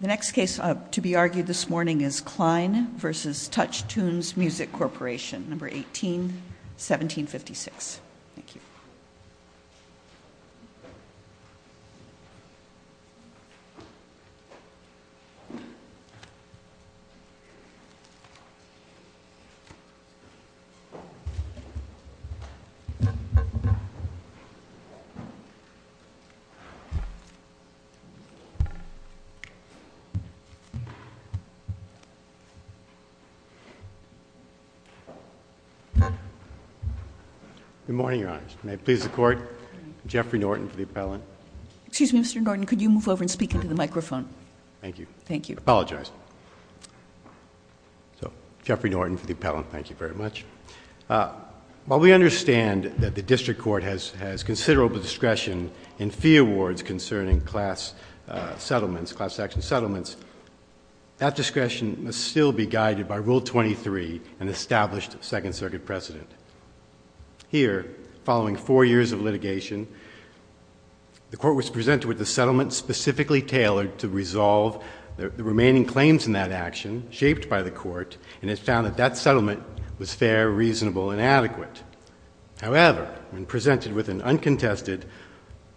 The next case to be argued this morning is Cline v. Touchtunes Music Corporation, number 18, 1756. Thank you. Good morning, Your Honors. May it please the Court, I'm Jeffrey Norton for the appellant. Excuse me, Mr. Norton, could you move over and speak into the microphone? Thank you. Thank you. I apologize. So, Jeffrey Norton for the appellant, thank you very much. While we understand that the District Court has considerable discretion in fee awards concerning class action settlements, that discretion must still be guided by Rule 23, an established Second Circuit precedent. Here, following four years of litigation, the Court was presented with a settlement specifically tailored to resolve the remaining claims in that action, shaped by the Court, and it found that that settlement was fair, reasonable, and adequate. However, when presented with an uncontested,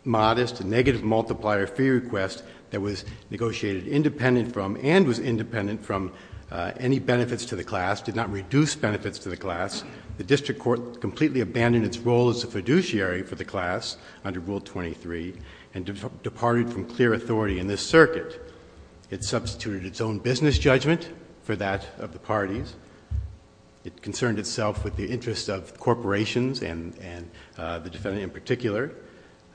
modest, negative multiplier fee request that was negotiated independent from and was independent from any benefits to the class, did not reduce benefits to the class, the District Court completely abandoned its role as a fiduciary for the class under Rule 23 and departed from clear authority in this circuit. It substituted its own business judgment for that of the parties. It concerned itself with the interests of corporations and the defendant in particular.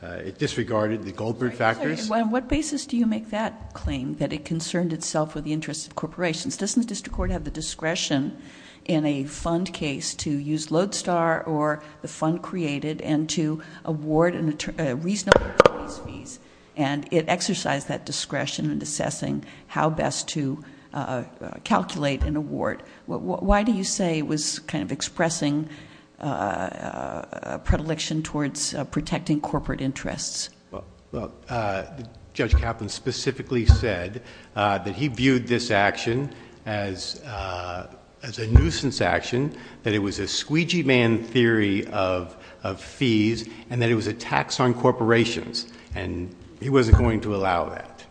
It disregarded the Goldberg factors. On what basis do you make that claim, that it concerned itself with the interests of corporations? Doesn't the District Court have the discretion in a fund case to use Lodestar or the fund created and to award a reasonable fees, and it exercised that discretion in assessing how best to calculate an award? Why do you say it was kind of expressing a predilection towards protecting corporate interests? Well, Judge Kaplan specifically said that he viewed this action as a nuisance action, that it was a squeegee-man theory of fees, and that it was a tax on corporations, and he wasn't going to allow that.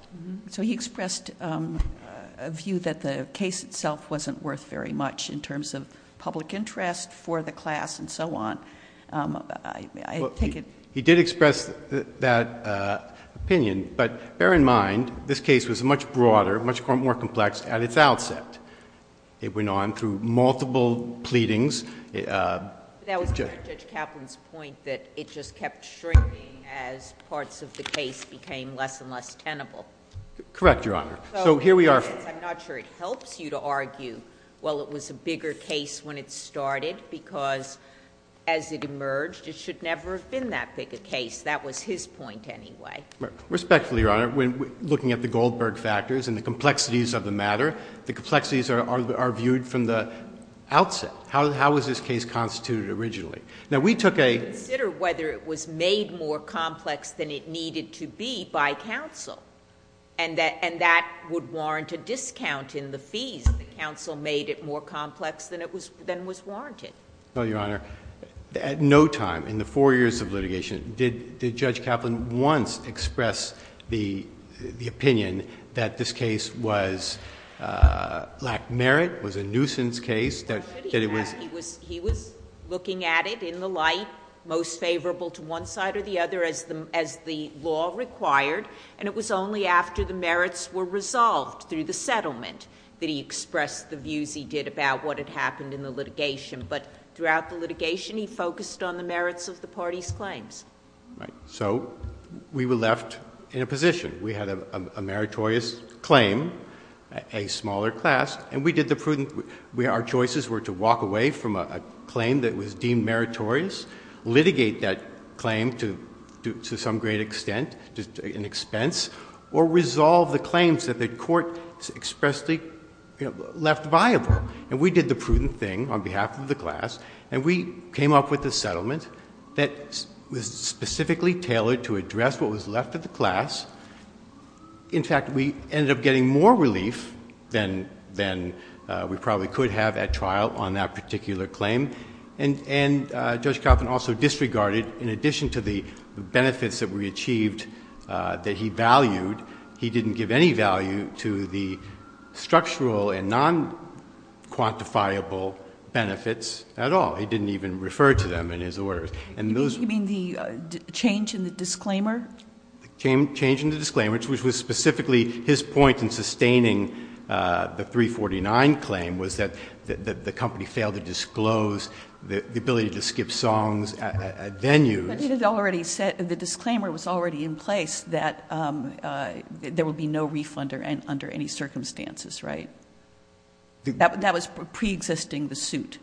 So he expressed a view that the case itself wasn't worth very much in terms of public interest for the class and so on. He did express that opinion, but bear in mind this case was much broader, much more complex at its outset. It went on through multiple pleadings. That was Judge Kaplan's point, that it just kept shrinking as parts of the case became less and less tenable. Correct, Your Honor. So here we are. I'm not sure it helps you to argue, well, it was a bigger case when it started, because as it emerged, it should never have been that big a case. That was his point anyway. Respectfully, Your Honor, looking at the Goldberg factors and the complexities of the matter, the complexities are viewed from the outset. How was this case constituted originally? Now, we took a— Consider whether it was made more complex than it needed to be by counsel, and that would warrant a discount in the fees if the counsel made it more complex than was warranted. No, Your Honor. At no time in the four years of litigation did Judge Kaplan once express the opinion that this case lacked merit, was a nuisance case, that it was— He was looking at it in the light most favorable to one side or the other as the law required, and it was only after the merits were resolved through the settlement that he expressed the views he did about what had happened in the litigation. But throughout the litigation, he focused on the merits of the party's claims. Right. So we were left in a position. We had a meritorious claim, a smaller class, and we did the prudent— our choices were to walk away from a claim that was deemed meritorious, litigate that claim to some great extent, an expense, or resolve the claims that the court expressly left viable. And we did the prudent thing on behalf of the class, and we came up with a settlement that was specifically tailored to address what was left of the class. In fact, we ended up getting more relief than we probably could have at trial on that particular claim. And Judge Kaplan also disregarded, in addition to the benefits that we achieved that he valued, he didn't give any value to the structural and non-quantifiable benefits at all. He didn't even refer to them in his orders. You mean the change in the disclaimer? The change in the disclaimer, which was specifically his point in sustaining the 349 claim, was that the company failed to disclose the ability to skip songs at venues. But the disclaimer was already in place that there would be no refund under any circumstances, right? That was preexisting the suit.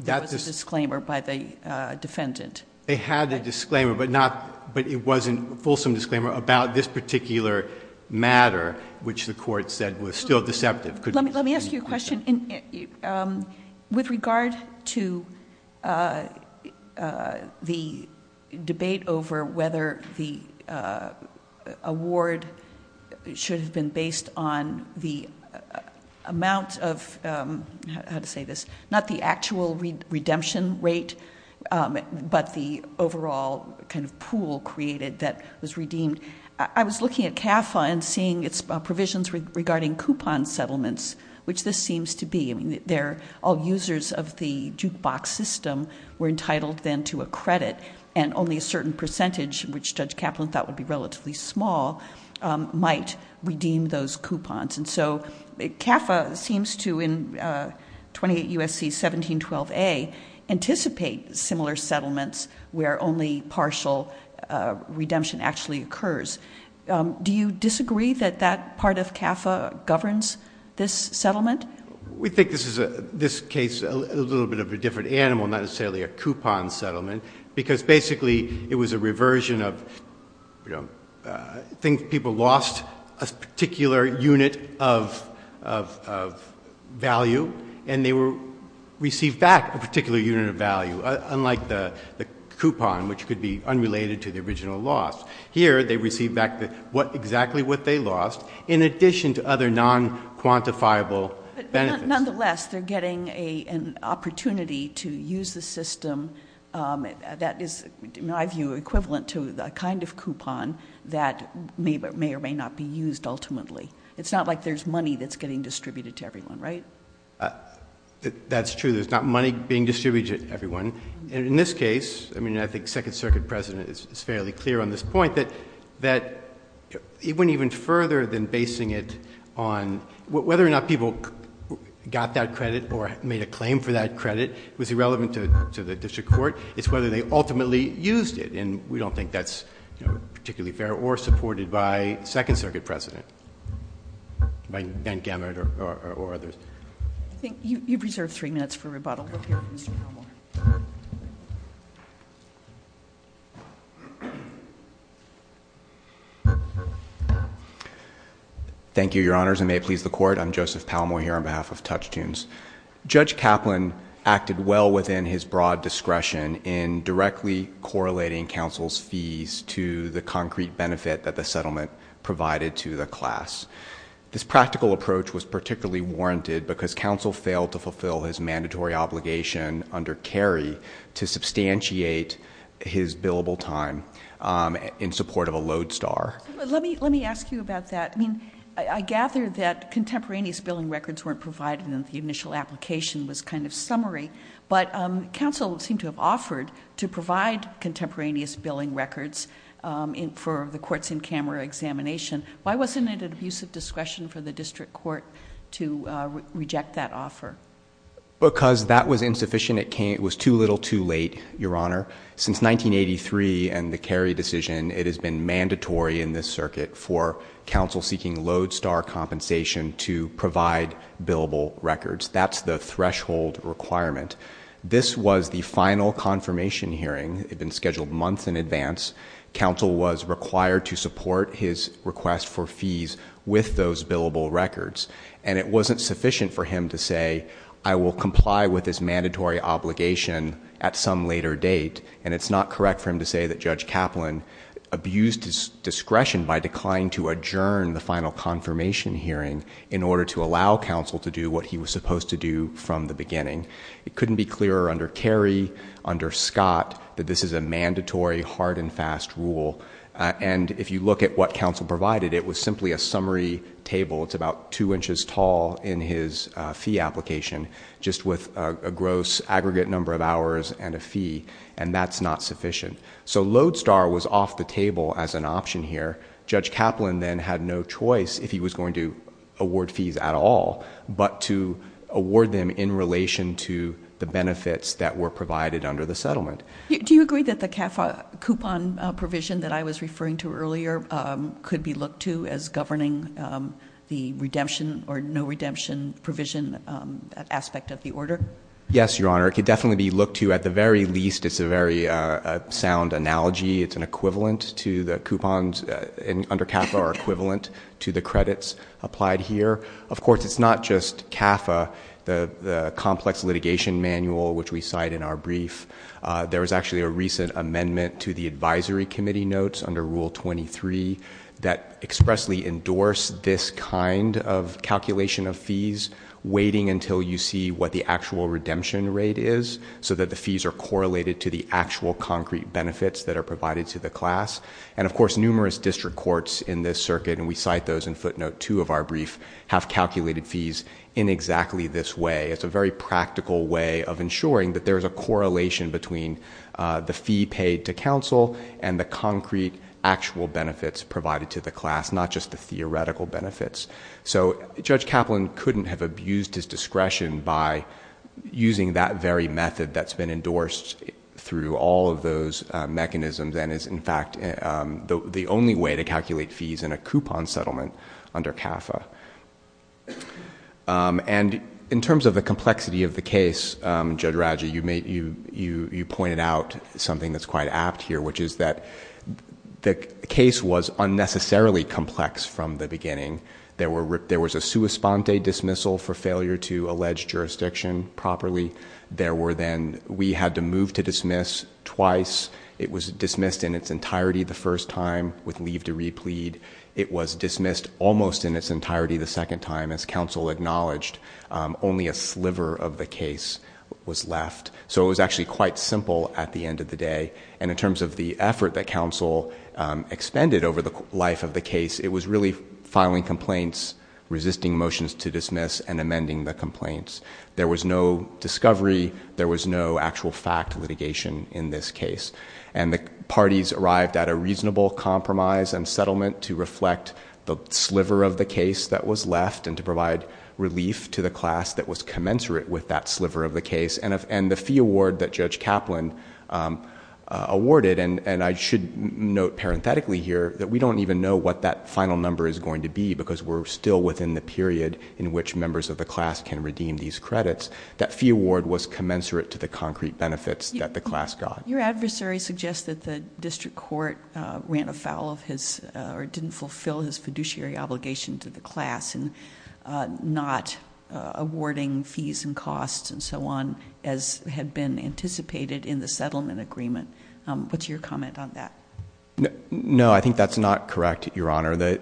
There was a disclaimer by the defendant. They had the disclaimer, but it wasn't a fulsome disclaimer about this particular matter, which the court said was still deceptive. Let me ask you a question. With regard to the debate over whether the award should have been based on the amount of, how to say this, not the actual redemption rate, but the overall kind of pool created that was redeemed, I was looking at CAFA and seeing its provisions regarding coupon settlements, which this seems to be. All users of the jukebox system were entitled then to a credit, and only a certain percentage, which Judge Kaplan thought would be relatively small, might redeem those coupons. And so CAFA seems to, in 28 U.S.C. 1712a, anticipate similar settlements where only partial redemption actually occurs. Do you disagree that that part of CAFA governs this settlement? We think this case is a little bit of a different animal, not necessarily a coupon settlement, because basically it was a reversion of, I think people lost a particular unit of value, and they received back a particular unit of value, unlike the coupon, which could be unrelated to the original loss. Here, they received back exactly what they lost, in addition to other non-quantifiable benefits. Nonetheless, they're getting an opportunity to use the system that is, in my view, equivalent to the kind of coupon that may or may not be used ultimately. It's not like there's money that's getting distributed to everyone, right? That's true. There's not money being distributed to everyone. In this case, I mean, I think the Second Circuit President is fairly clear on this point, that it went even further than basing it on whether or not people got that credit or made a claim for that credit. It was irrelevant to the district court. It's whether they ultimately used it, and we don't think that's particularly fair, or supported by the Second Circuit President, by Ben Gamert or others. I think you preserve three minutes for rebuttal. We'll hear from Mr. Palmore. Thank you, Your Honors. I may please the Court. I'm Joseph Palmore here on behalf of Touchtoons. Judge Kaplan acted well within his broad discretion in directly correlating counsel's fees to the concrete benefit that the settlement provided to the class. This practical approach was particularly warranted because counsel failed to fulfill his mandatory obligation under Cary to substantiate his billable time in support of a lodestar. Let me ask you about that. I mean, I gather that contemporaneous billing records weren't provided, and the initial application was kind of summary, but counsel seemed to have offered to provide contemporaneous billing records for the courts in camera examination. Why wasn't it an abuse of discretion for the district court to reject that offer? Because that was insufficient. It was too little too late, Your Honor. Since 1983 and the Cary decision, it has been mandatory in this circuit for counsel seeking lodestar compensation to provide billable records. That's the threshold requirement. This was the final confirmation hearing. It had been scheduled months in advance. Counsel was required to support his request for fees with those billable records, and it wasn't sufficient for him to say, I will comply with this mandatory obligation at some later date, and it's not correct for him to say that Judge Kaplan abused his discretion by declining to adjourn the final confirmation hearing in order to allow counsel to do what he was supposed to do from the beginning. It couldn't be clearer under Cary, under Scott, that this is a mandatory hard and fast rule, and if you look at what counsel provided, it was simply a summary table. It's about two inches tall in his fee application, just with a gross aggregate number of hours and a fee, and that's not sufficient. So lodestar was off the table as an option here. Judge Kaplan then had no choice if he was going to award fees at all, but to award them in relation to the benefits that were provided under the settlement. Do you agree that the CAFA coupon provision that I was referring to earlier could be looked to as governing the redemption or no redemption provision aspect of the order? Yes, Your Honor. It could definitely be looked to. At the very least, it's a very sound analogy. It's an equivalent to the coupons under CAFA are equivalent to the credits applied here. Of course, it's not just CAFA, the complex litigation manual which we cite in our brief. There was actually a recent amendment to the advisory committee notes under Rule 23 that expressly endorsed this kind of calculation of fees, waiting until you see what the actual redemption rate is, so that the fees are correlated to the actual concrete benefits that are provided to the class. Of course, numerous district courts in this circuit, and we cite those in footnote two of our brief, have calculated fees in exactly this way. It's a very practical way of ensuring that there's a correlation between the fee paid to counsel and the concrete actual benefits provided to the class, not just the theoretical benefits. Judge Kaplan couldn't have abused his discretion by using that very method that's been endorsed through all of those mechanisms and is, in fact, the only way to calculate fees in a coupon settlement under CAFA. In terms of the complexity of the case, Judge Raja, you pointed out something that's quite apt here, which is that the case was unnecessarily complex from the beginning. There was a sua sponte dismissal for failure to allege jurisdiction properly. We had to move to dismiss twice. It was dismissed in its entirety the first time with leave to replead. It was dismissed almost in its entirety the second time, as counsel acknowledged. Only a sliver of the case was left, so it was actually quite simple at the end of the day. In terms of the effort that counsel expended over the life of the case, it was really filing complaints, resisting motions to dismiss, and amending the complaints. There was no discovery. There was no actual fact litigation in this case, and the parties arrived at a reasonable compromise and settlement to reflect the sliver of the case that was left and to provide relief to the class that was commensurate with that sliver of the case. The fee award that Judge Kaplan awarded, and I should note parenthetically here that we don't even know what that final number is going to be because we're still within the period in which members of the class can redeem these credits, that fee award was commensurate to the concrete benefits that the class got. Your adversary suggests that the district court ran afoul of his or didn't fulfill his fiduciary obligation to the class and not awarding fees and costs and so on as had been anticipated in the settlement agreement. What's your comment on that? No, I think that's not correct, Your Honor.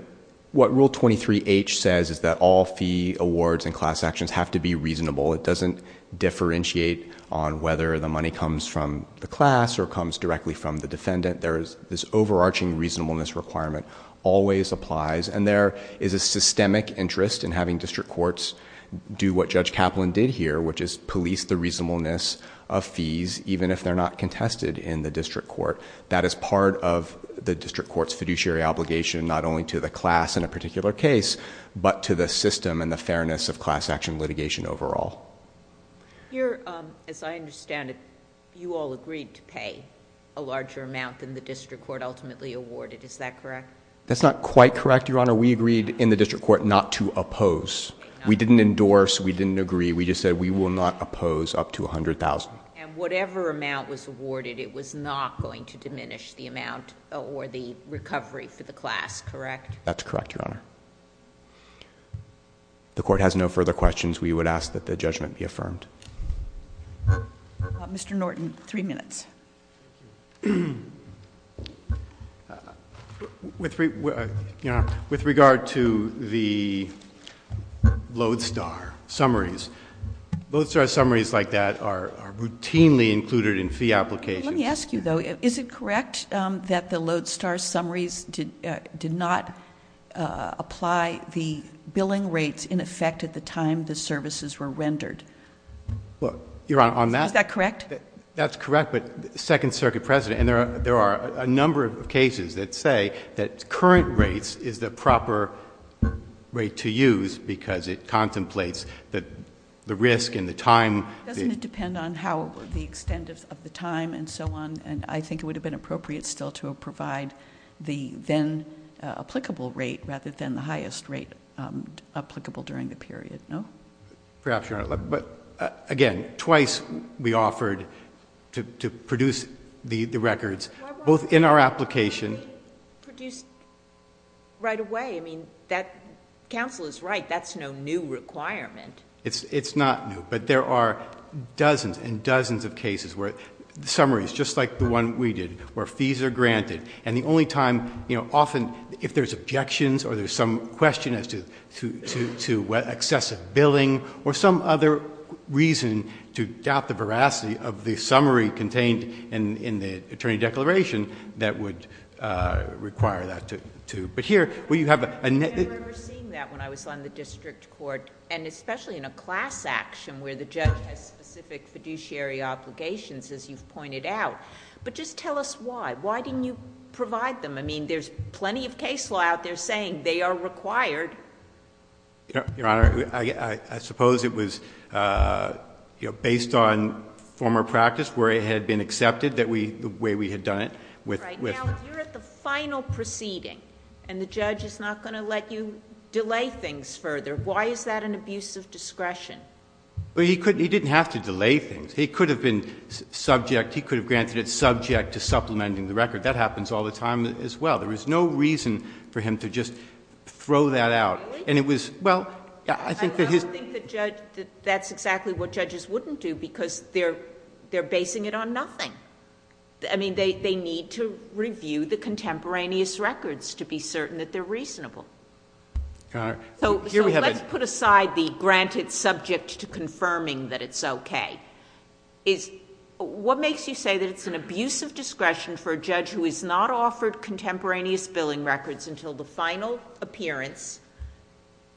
What Rule 23H says is that all fee awards and class actions have to be reasonable. It doesn't differentiate on whether the money comes from the class or comes directly from the defendant. This overarching reasonableness requirement always applies, and there is a systemic interest in having district courts do what Judge Kaplan did here, which is police the reasonableness of fees even if they're not contested in the district court. That is part of the district court's fiduciary obligation not only to the class in a particular case, but to the system and the fairness of class action litigation overall. As I understand it, you all agreed to pay a larger amount than the district court ultimately awarded. Is that correct? That's not quite correct, Your Honor. We agreed in the district court not to oppose. We didn't endorse. We didn't agree. We just said we will not oppose up to $100,000. And whatever amount was awarded, it was not going to diminish the amount or the recovery for the class, correct? That's correct, Your Honor. If the court has no further questions, we would ask that the judgment be affirmed. Mr. Norton, three minutes. With regard to the Lodestar summaries, Lodestar summaries like that are routinely included in fee applications. Let me ask you, though. Is it correct that the Lodestar summaries did not apply the billing rates in effect at the time the services were rendered? Your Honor, on that? Is that correct? That's correct, but the Second Circuit precedent, and there are a number of cases that say that current rates is the proper rate to use because it contemplates the risk and the time. Doesn't it depend on how the extent of the time and so on? And I think it would have been appropriate still to provide the then applicable rate rather than the highest rate applicable during the period, no? Perhaps, Your Honor. But, again, twice we offered to produce the records, both in our application... Counsel is right. That's no new requirement. It's not new, but there are dozens and dozens of cases where summaries, just like the one we did, where fees are granted and the only time, you know, often if there's objections or there's some question as to excessive billing or some other reason to doubt the veracity of the summary contained in the attorney declaration that would require that to... I remember seeing that when I was on the district court, and especially in a class action where the judge has specific fiduciary obligations, as you've pointed out. But just tell us why. Why didn't you provide them? I mean, there's plenty of case law out there saying they are required. Your Honor, I suppose it was based on former practice where it had been accepted the way we had done it. That's right. Now, if you're at the final proceeding and the judge is not going to let you delay things further, why is that an abuse of discretion? He didn't have to delay things. He could have been subject. He could have granted it subject to supplementing the record. That happens all the time as well. There was no reason for him to just throw that out. Really? Well, I think that his... I don't think that that's exactly what judges wouldn't do because they're basing it on nothing. I mean, they need to review the contemporaneous records to be certain that they're reasonable. Your Honor, here we have... So let's put aside the granted subject to confirming that it's okay. What makes you say that it's an abuse of discretion for a judge who has not offered contemporaneous billing records until the final appearance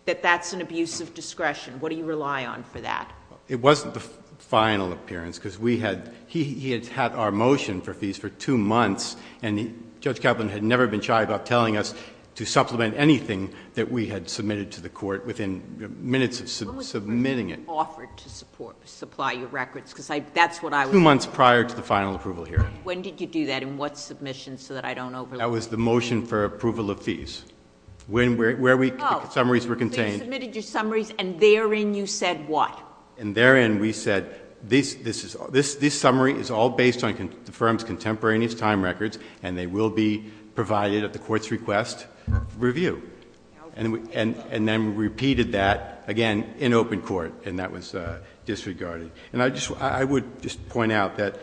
that that's an abuse of discretion? What do you rely on for that? It wasn't the final appearance because we had... He had had our motion for fees for two months, and Judge Kaplan had never been shy about telling us to supplement anything that we had submitted to the court within minutes of submitting it. When was the first time you offered to supply your records? Because that's what I was... Two months prior to the final approval hearing. When did you do that, and what submission so that I don't overlook... That was the motion for approval of fees. Where the summaries were contained... So you submitted your summaries, and therein you said what? And therein we said this summary is all based on the firm's contemporaneous time records, and they will be provided at the court's request for review. And then we repeated that again in open court, and that was disregarded. And I would just point out that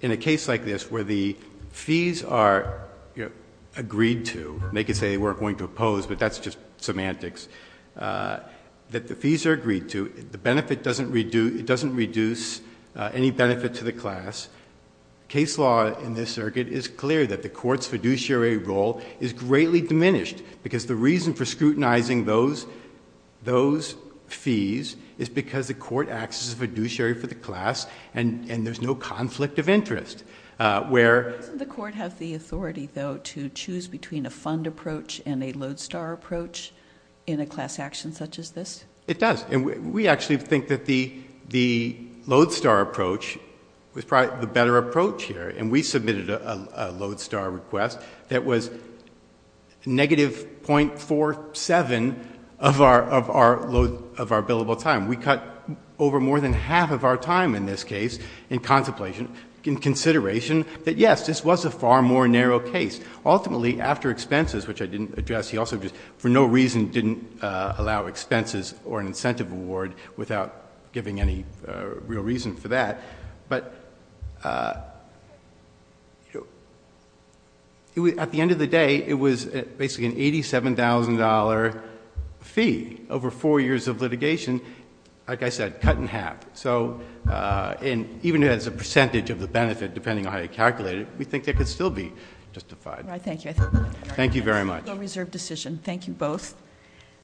in a case like this where the fees are agreed to, and they could say they weren't going to oppose, but that's just semantics, that the fees are agreed to, the benefit doesn't reduce any benefit to the class. Case law in this circuit is clear that the court's fiduciary role is greatly diminished because the reason for scrutinizing those fees is because the court acts as a fiduciary for the class, and there's no conflict of interest. Where... Doesn't the court have the authority, though, to choose between a fund approach and a lodestar approach in a class action such as this? It does, and we actually think that the lodestar approach was probably the better approach here, and we submitted a lodestar request that was negative .47 of our billable time. We cut over more than half of our time in this case in contemplation, in consideration that, yes, this was a far more narrow case. Ultimately, after expenses, which I didn't address, he also just for no reason didn't allow expenses or an incentive award without giving any real reason for that. But at the end of the day, it was basically an $87,000 fee over four years of litigation, like I said, cut in half. So even as a percentage of the benefit, depending on how you calculate it, we think that could still be justified. All right. Thank you. All right. Thank you very much. Thank you both.